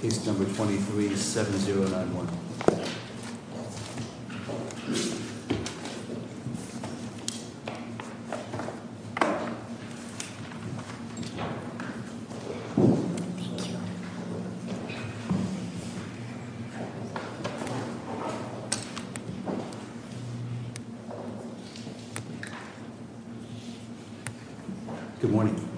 case number 237091. Good morning.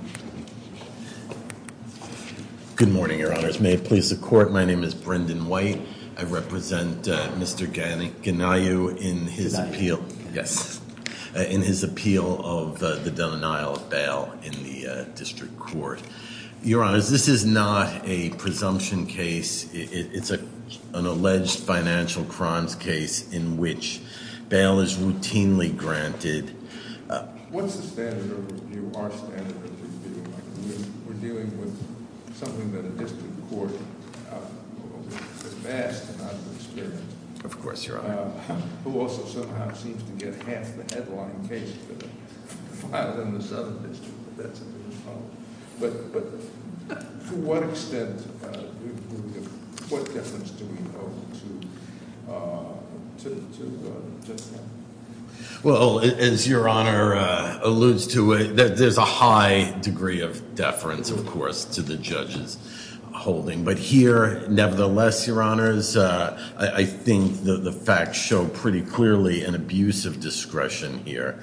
Good morning, your honors. May it please the court, my name is Brendan White. I represent Mr. Ganiyu in his appeal of the denial of bail in the district court. Your honors, this is not a presumption case. It's an alleged financial crimes case in which bail is routinely granted. What's the standard of review, our standard of review? We're dealing with something that a district court has asked to have an experience. Of course, your honor. Who also somehow seems to get half the headline case filed in the southern district. But to what extent, what difference do we owe to the district court? Well, as your honor alludes to, there's a high degree of deference, of course, to the judge's holding. But here, nevertheless, your honors, I think the facts show pretty clearly an abuse of discretion here.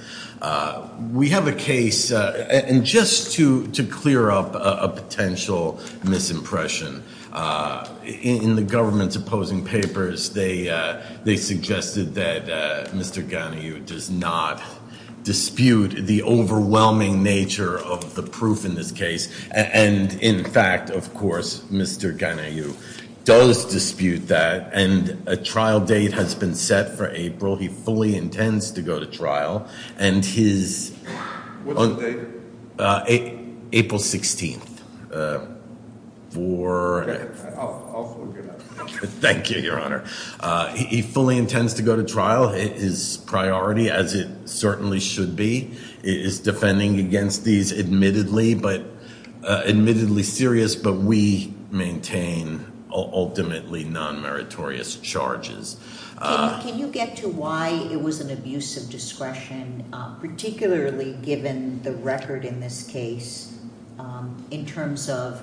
We have a case, and just to clear up a potential misimpression, in the government's opposing papers, they suggested that Mr. Ganiyu does not dispute the overwhelming nature of the proof in this case. And in fact, of course, Mr. Ganiyu does dispute that. And a trial date has been set for April. He fully intends to go to trial. What's the date? April 16th. Okay, I'll look it up. Thank you, your honor. He fully intends to go to trial. His priority, as it certainly should be, is defending against these admittedly serious, but we maintain ultimately non-meritorious charges. Can you get to why it was an abuse of discretion, particularly given the record in this case, in terms of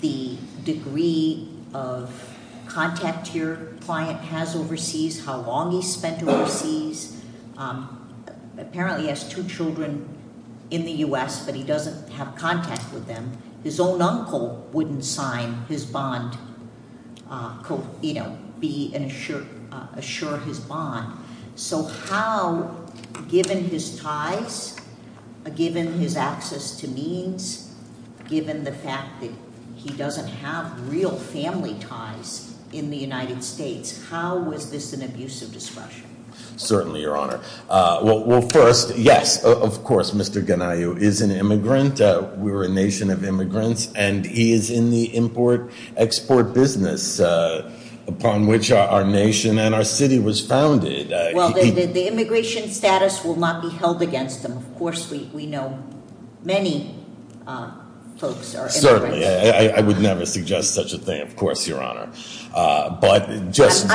the degree of contact your client has overseas, how long he's spent overseas? Apparently he has two children in the U.S., but he doesn't have contact with them. His own uncle wouldn't sign his bond, be assured his bond. So how, given his ties, given his access to means, given the fact that he doesn't have real family ties in the United States, how is this an abuse of discretion? Certainly, your honor. Well, first, yes, of course, Mr. Ganiyu is an immigrant. We're a nation of immigrants, and he is in the import-export business upon which our nation and our city was founded. Well, the immigration status will not be held against him. Of course, we know many folks are immigrants. Certainly. I would never suggest such a thing, of course, your honor. But just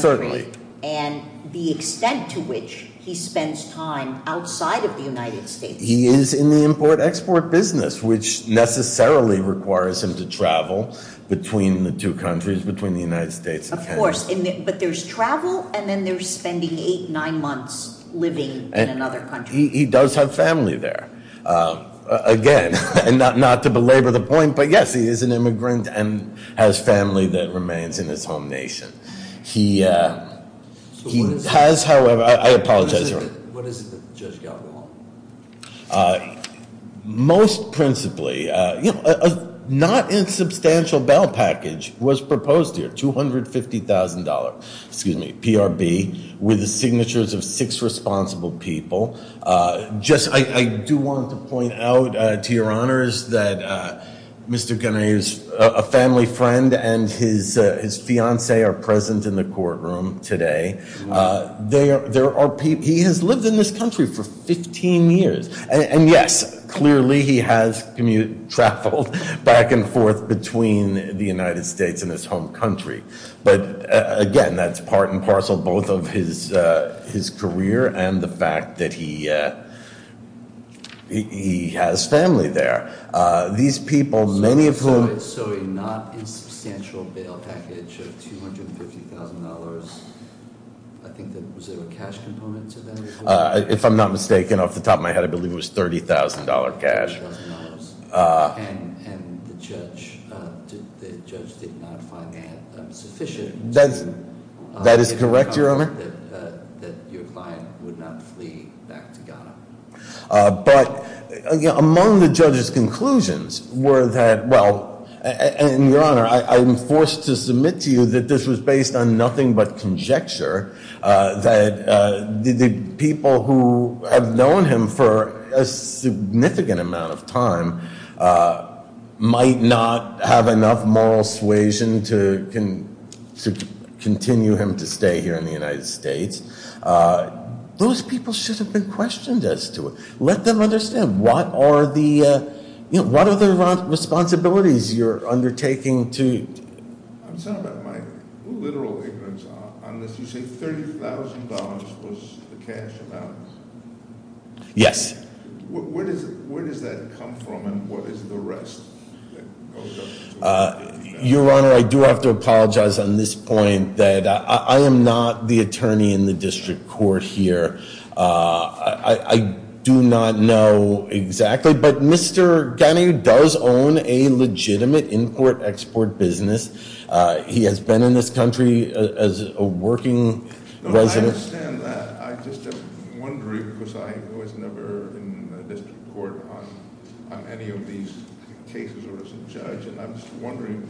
– Certainly. And the extent to which he spends time outside of the United States. He is in the import-export business, which necessarily requires him to travel between the two countries, between the United States and Canada. Of course. But there's travel, and then there's spending eight, nine months living in another country. He does have family there. Again, not to belabor the point, but yes, he is an immigrant and has family that remains in his home nation. He has, however – I apologize, your honor. What is it that Judge Gallagher wants? Most principally, a not-insubstantial bail package was proposed here, $250,000 PRB, with the signatures of six responsible people. I do want to point out, to your honors, that Mr. Gennady's family friend and his fiancée are present in the courtroom today. He has lived in this country for 15 years. And yes, clearly he has traveled back and forth between the United States and his home country. But again, that's part and parcel both of his career and the fact that he has family there. These people, many of whom – So a not-insubstantial bail package of $250,000, I think, was there a cash component to that? If I'm not mistaken, off the top of my head, I believe it was $30,000 cash. And the judge did not find that sufficient. That is correct, your honor. That your client would not flee back to Ghana. But among the judge's conclusions were that – well, and your honor, I am forced to submit to you that this was based on nothing but conjecture. That the people who have known him for a significant amount of time might not have enough moral suasion to continue him to stay here in the United States. Those people should have been questioned as to it. Let them understand what are the responsibilities you're undertaking to – I'm talking about my literal ignorance on this. You say $30,000 was the cash amount? Yes. Where does that come from and what is the rest? Your honor, I do have to apologize on this point that I am not the attorney in the district court here. I do not know exactly. But Mr. Ghani does own a legitimate import-export business. He has been in this country as a working resident. I understand that. I just am wondering because I was never in the district court on any of these cases or as a judge. And I'm just wondering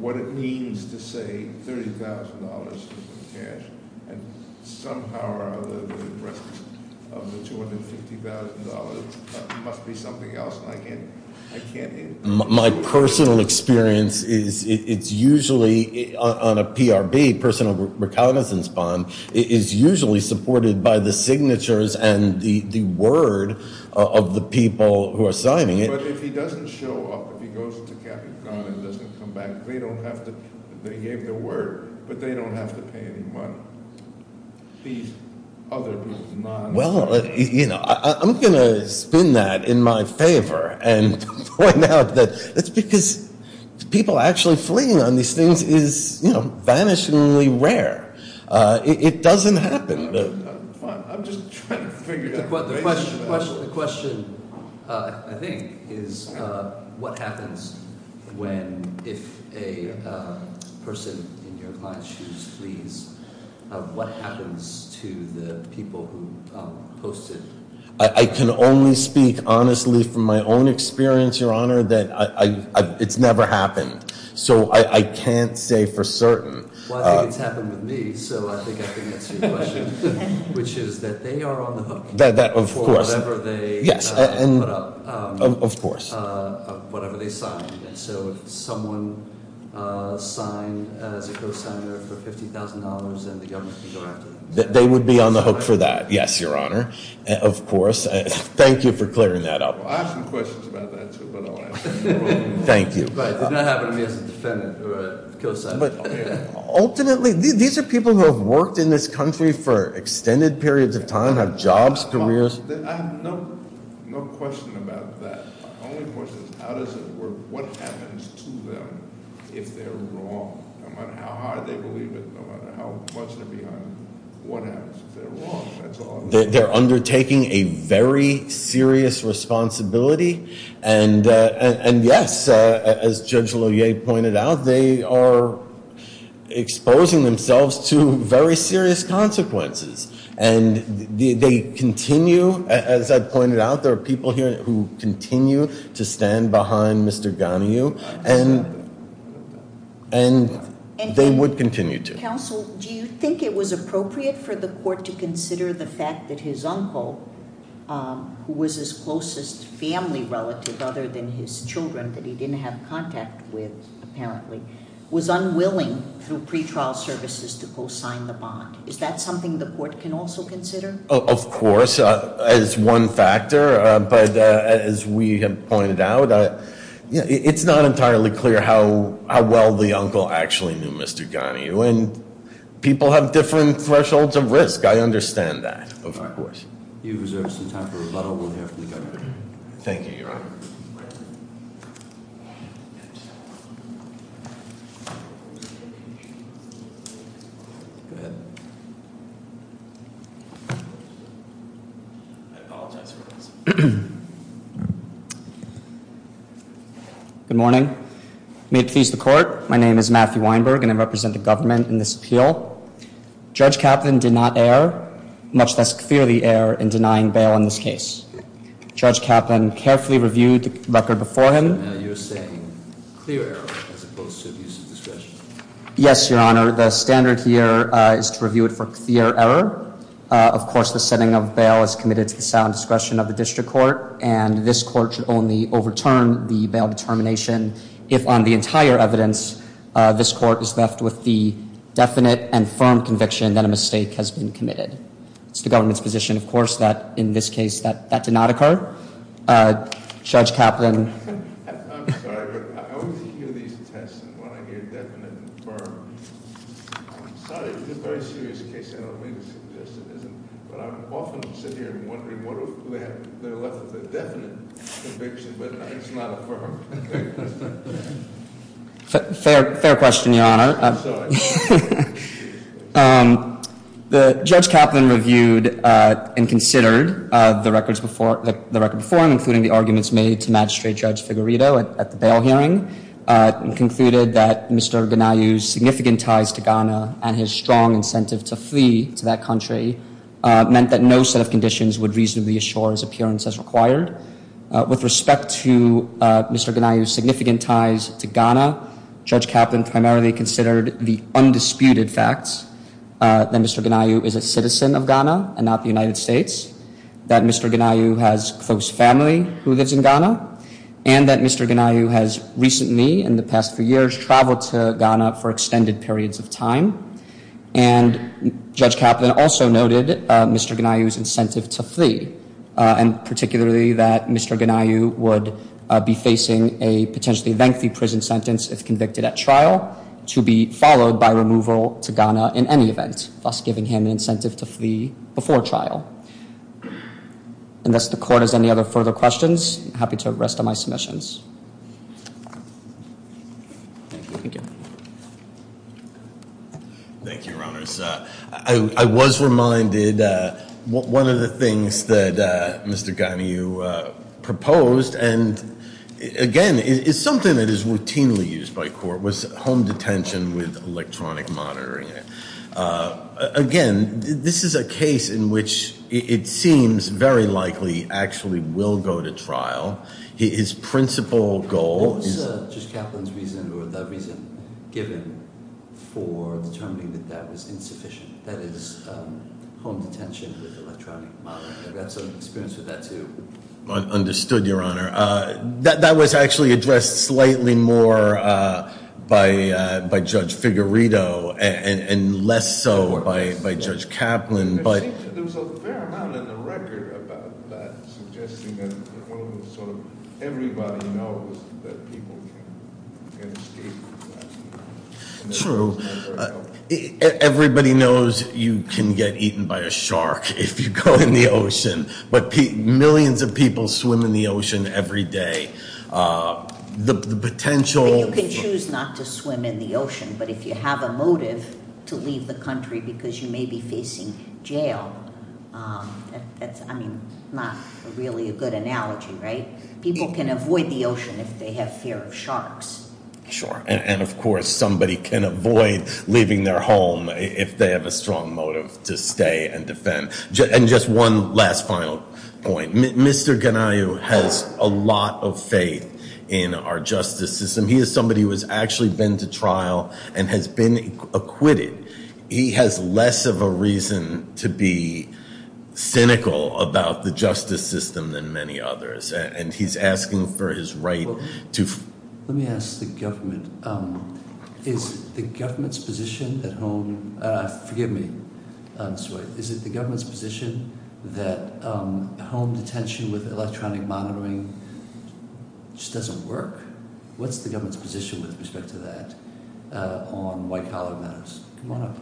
what it means to say $30,000 is the cash and somehow or other the rest of the $250,000 must be something else. And I can't – I can't answer that. My personal experience is it's usually on a PRB, personal recognizance bond, it is usually supported by the signatures and the word of the people who are signing it. But if he doesn't show up, if he goes to Captain Ghani and doesn't come back, they don't have to – they gave their word, but they don't have to pay any money. These other people do not. Well, you know, I'm going to spin that in my favor and point out that it's because people actually fleeing on these things is, you know, vanishingly rare. It doesn't happen. The question, I think, is what happens when – if a person in your client's shoes flees, what happens to the people who post it? I can only speak honestly from my own experience, Your Honor, that it's never happened. So I can't say for certain. Well, I think it's happened with me, so I think I can answer your question, which is that they are on the hook for whatever they put up, whatever they signed. And so if someone signed as a cosigner for $50,000, then the government can go after them. They would be on the hook for that, yes, Your Honor, of course. Thank you for clearing that up. I have some questions about that, too, but I'll answer them. Thank you. It did not happen to me as a defendant or a cosigner. Ultimately, these are people who have worked in this country for extended periods of time, have jobs, careers. I have no question about that. My only question is how does it work? What happens to them if they're wrong, no matter how hard they believe it, no matter how much they're behind them? What happens if they're wrong? They're undertaking a very serious responsibility. And yes, as Judge Loyer pointed out, they are exposing themselves to very serious consequences. And they continue, as I pointed out, there are people here who continue to stand behind Mr. Ganiu, and they would continue to. Mr. Counsel, do you think it was appropriate for the court to consider the fact that his uncle, who was his closest family relative other than his children that he didn't have contact with, apparently, was unwilling through pretrial services to co-sign the bond? Is that something the court can also consider? Of course, as one factor. But as we have pointed out, it's not entirely clear how well the uncle actually knew Mr. Ganiu. And people have different thresholds of risk. I understand that, of course. If you reserve some time for rebuttal, we'll hear from the governor. Thank you, Your Honor. Go ahead. I apologize for this. Good morning. May it please the court, my name is Matthew Weinberg, and I represent the government in this appeal. Judge Kaplan did not err, much less clearly err in denying bail in this case. Judge Kaplan carefully reviewed the record before him. You're saying clear error as opposed to abuse of discretion. Yes, Your Honor. The standard here is to review it for clear error. Of course, the setting of bail is committed to the sound discretion of the district court. And this court should only overturn the bail determination if, on the entire evidence, this court is left with the definite and firm conviction that a mistake has been committed. It's the government's position, of course, that in this case that did not occur. Judge Kaplan. I'm sorry, but I always hear these tests, and when I hear definite and firm, I'm sorry, this is a very serious case, I don't mean to suggest it isn't, but I often sit here wondering what if they're left with a definite conviction, but it's not a firm conviction. Fair question, Your Honor. I'm sorry. Judge Kaplan reviewed and considered the record before him, including the arguments made to Magistrate Judge Figueredo at the bail hearing, and concluded that Mr. Gnaiu's significant ties to Ghana and his strong incentive to flee to that country meant that no set of conditions would reasonably assure his appearance as required. With respect to Mr. Gnaiu's significant ties to Ghana, Judge Kaplan primarily considered the undisputed facts that Mr. Gnaiu is a citizen of Ghana and not the United States, that Mr. Gnaiu has close family who lives in Ghana, and that Mr. Gnaiu has recently, in the past few years, traveled to Ghana for extended periods of time. And Judge Kaplan also noted Mr. Gnaiu's incentive to flee, and particularly that Mr. Gnaiu would be facing a potentially lengthy prison sentence if convicted at trial, to be followed by removal to Ghana in any event, thus giving him an incentive to flee before trial. Unless the Court has any other further questions, I'm happy to rest on my submissions. Thank you. Thank you, Your Honors. I was reminded, one of the things that Mr. Gnaiu proposed, and again, it's something that is routinely used by court, was home detention with electronic monitoring. Again, this is a case in which it seems very likely actually will go to trial. His principal goal is- What was Judge Kaplan's reason or the reason given for determining that that was insufficient, that is, home detention with electronic monitoring? I've got some experience with that, too. Understood, Your Honor. That was actually addressed slightly more by Judge Figueredo and less so by Judge Kaplan, but- Everybody knows that people can escape. True. Everybody knows you can get eaten by a shark if you go in the ocean. But millions of people swim in the ocean every day. The potential- You can choose not to swim in the ocean, but if you have a motive to leave the country because you may be facing jail, that's, I mean, not really a good analogy, right? People can avoid the ocean if they have fear of sharks. Sure. And, of course, somebody can avoid leaving their home if they have a strong motive to stay and defend. And just one last final point. Mr. Gnaiu has a lot of faith in our justice system. He is somebody who has actually been to trial and has been acquitted. He has less of a reason to be cynical about the justice system than many others, and he's asking for his right to- Let me ask the government. Is the government's position at home- Forgive me. I'm sorry. Is it the government's position that home detention with electronic monitoring just doesn't work? What's the government's position with respect to that on white-collar matters? Come on up.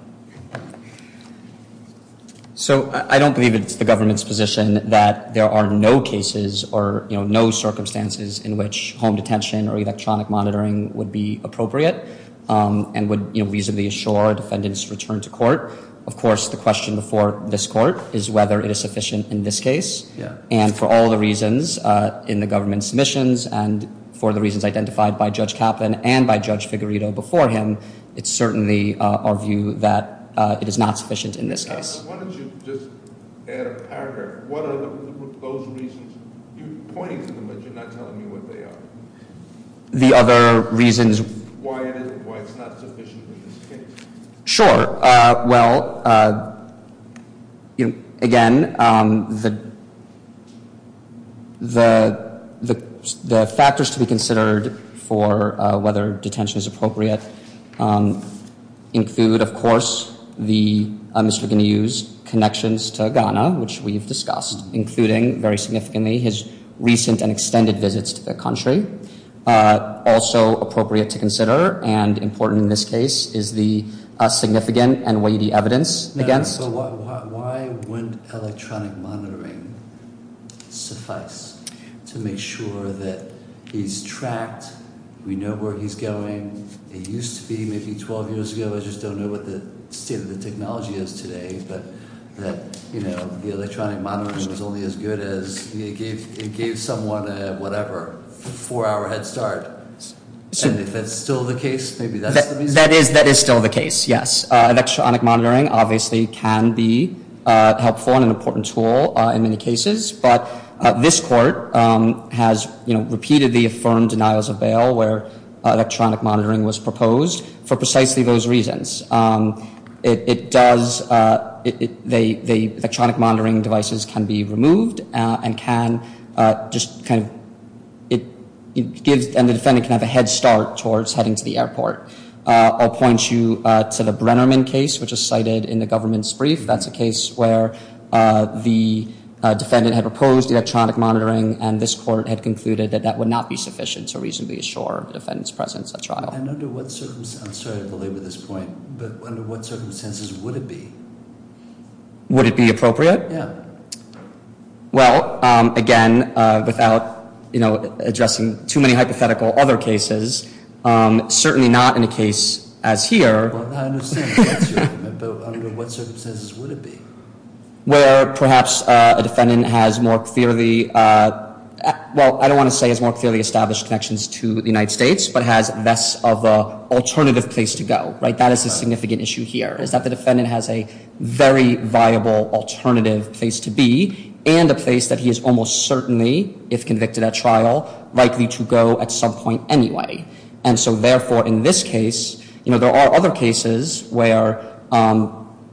So I don't believe it's the government's position that there are no cases or no circumstances in which home detention or electronic monitoring would be appropriate and would reasonably assure defendants' return to court. Of course, the question before this court is whether it is sufficient in this case. And for all the reasons in the government's submissions and for the reasons identified by Judge Kaplan and by Judge Figueredo before him, it's certainly our view that it is not sufficient in this case. Why don't you just add a paragraph? What are those reasons? You're pointing to them, but you're not telling me what they are. The other reasons- Why it's not sufficient in this case. Sure. Well, again, the factors to be considered for whether detention is appropriate include, of course, the Mr. Guinea's connections to Ghana, which we've discussed, including very significantly his recent and extended visits to the country. Also appropriate to consider and important in this case is the significant and weighty evidence against- Why wouldn't electronic monitoring suffice to make sure that he's tracked, we know where he's going? It used to be maybe 12 years ago. I just don't know what the state of the technology is today, but the electronic monitoring was only as good as it gave someone a whatever, a four-hour head start. And if that's still the case, maybe that's the reason. That is still the case, yes. Electronic monitoring obviously can be helpful and an important tool in many cases, but this court has repeatedly affirmed denials of bail where electronic monitoring was proposed for precisely those reasons. The electronic monitoring devices can be removed and the defendant can have a head start towards heading to the airport. I'll point you to the Brennerman case, which is cited in the government's brief. That's a case where the defendant had proposed electronic monitoring, and this court had concluded that that would not be sufficient to reasonably assure the defendant's presence at trial. I'm sorry to belabor this point, but under what circumstances would it be? Would it be appropriate? Yeah. Well, again, without addressing too many hypothetical other cases, certainly not in a case as here. Well, I understand that's your argument, but under what circumstances would it be? Where perhaps a defendant has more clearly, well, I don't want to say has more clearly established connections to the United States, but has less of an alternative place to go, right? That is a significant issue here, is that the defendant has a very viable alternative place to be and a place that he is almost certainly, if convicted at trial, likely to go at some point anyway. And so, therefore, in this case, you know, there are other cases where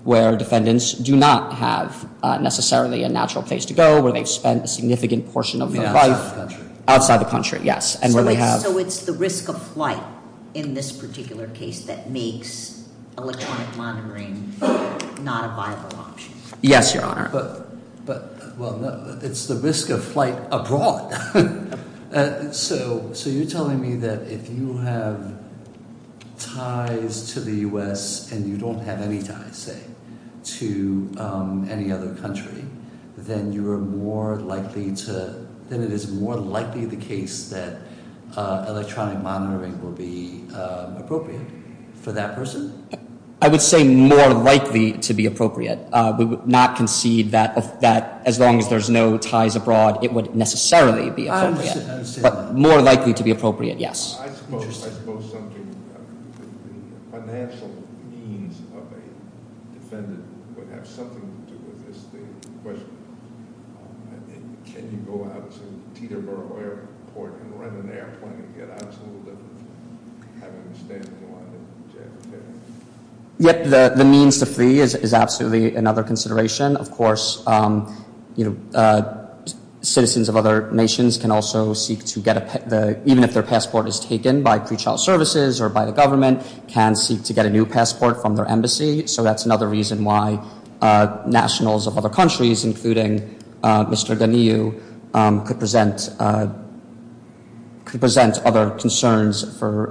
defendants do not have necessarily a natural place to go, where they've spent a significant portion of their life outside the country. So it's the risk of flight in this particular case that makes electronic monitoring not a viable option. Yes, Your Honor. But, well, it's the risk of flight abroad. So you're telling me that if you have ties to the U.S. and you don't have any ties, say, to any other country, then you are more likely to, then it is more likely the case that electronic monitoring will be appropriate for that person? I would say more likely to be appropriate. We would not concede that as long as there's no ties abroad, it would necessarily be appropriate. I understand that. But more likely to be appropriate, yes. I suppose something about the financial means of a defendant would have something to do with this question. Can you go out to Teterboro Airport and rent an airplane and get out to have a stand-in line at JFK? Yes, the means to free is absolutely another consideration. Of course, you know, citizens of other nations can also seek to get a passport, even if their passport is taken by pre-trial services or by the government, can seek to get a new passport from their embassy. So that's another reason why nationals of other countries, including Mr. Daniu, could present other concerns for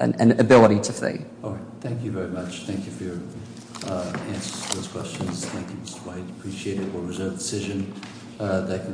an ability to flee. All right. Thank you very much. Thank you for your answers to those questions. Thank you, Mr. White. Appreciate it. It was a decision that-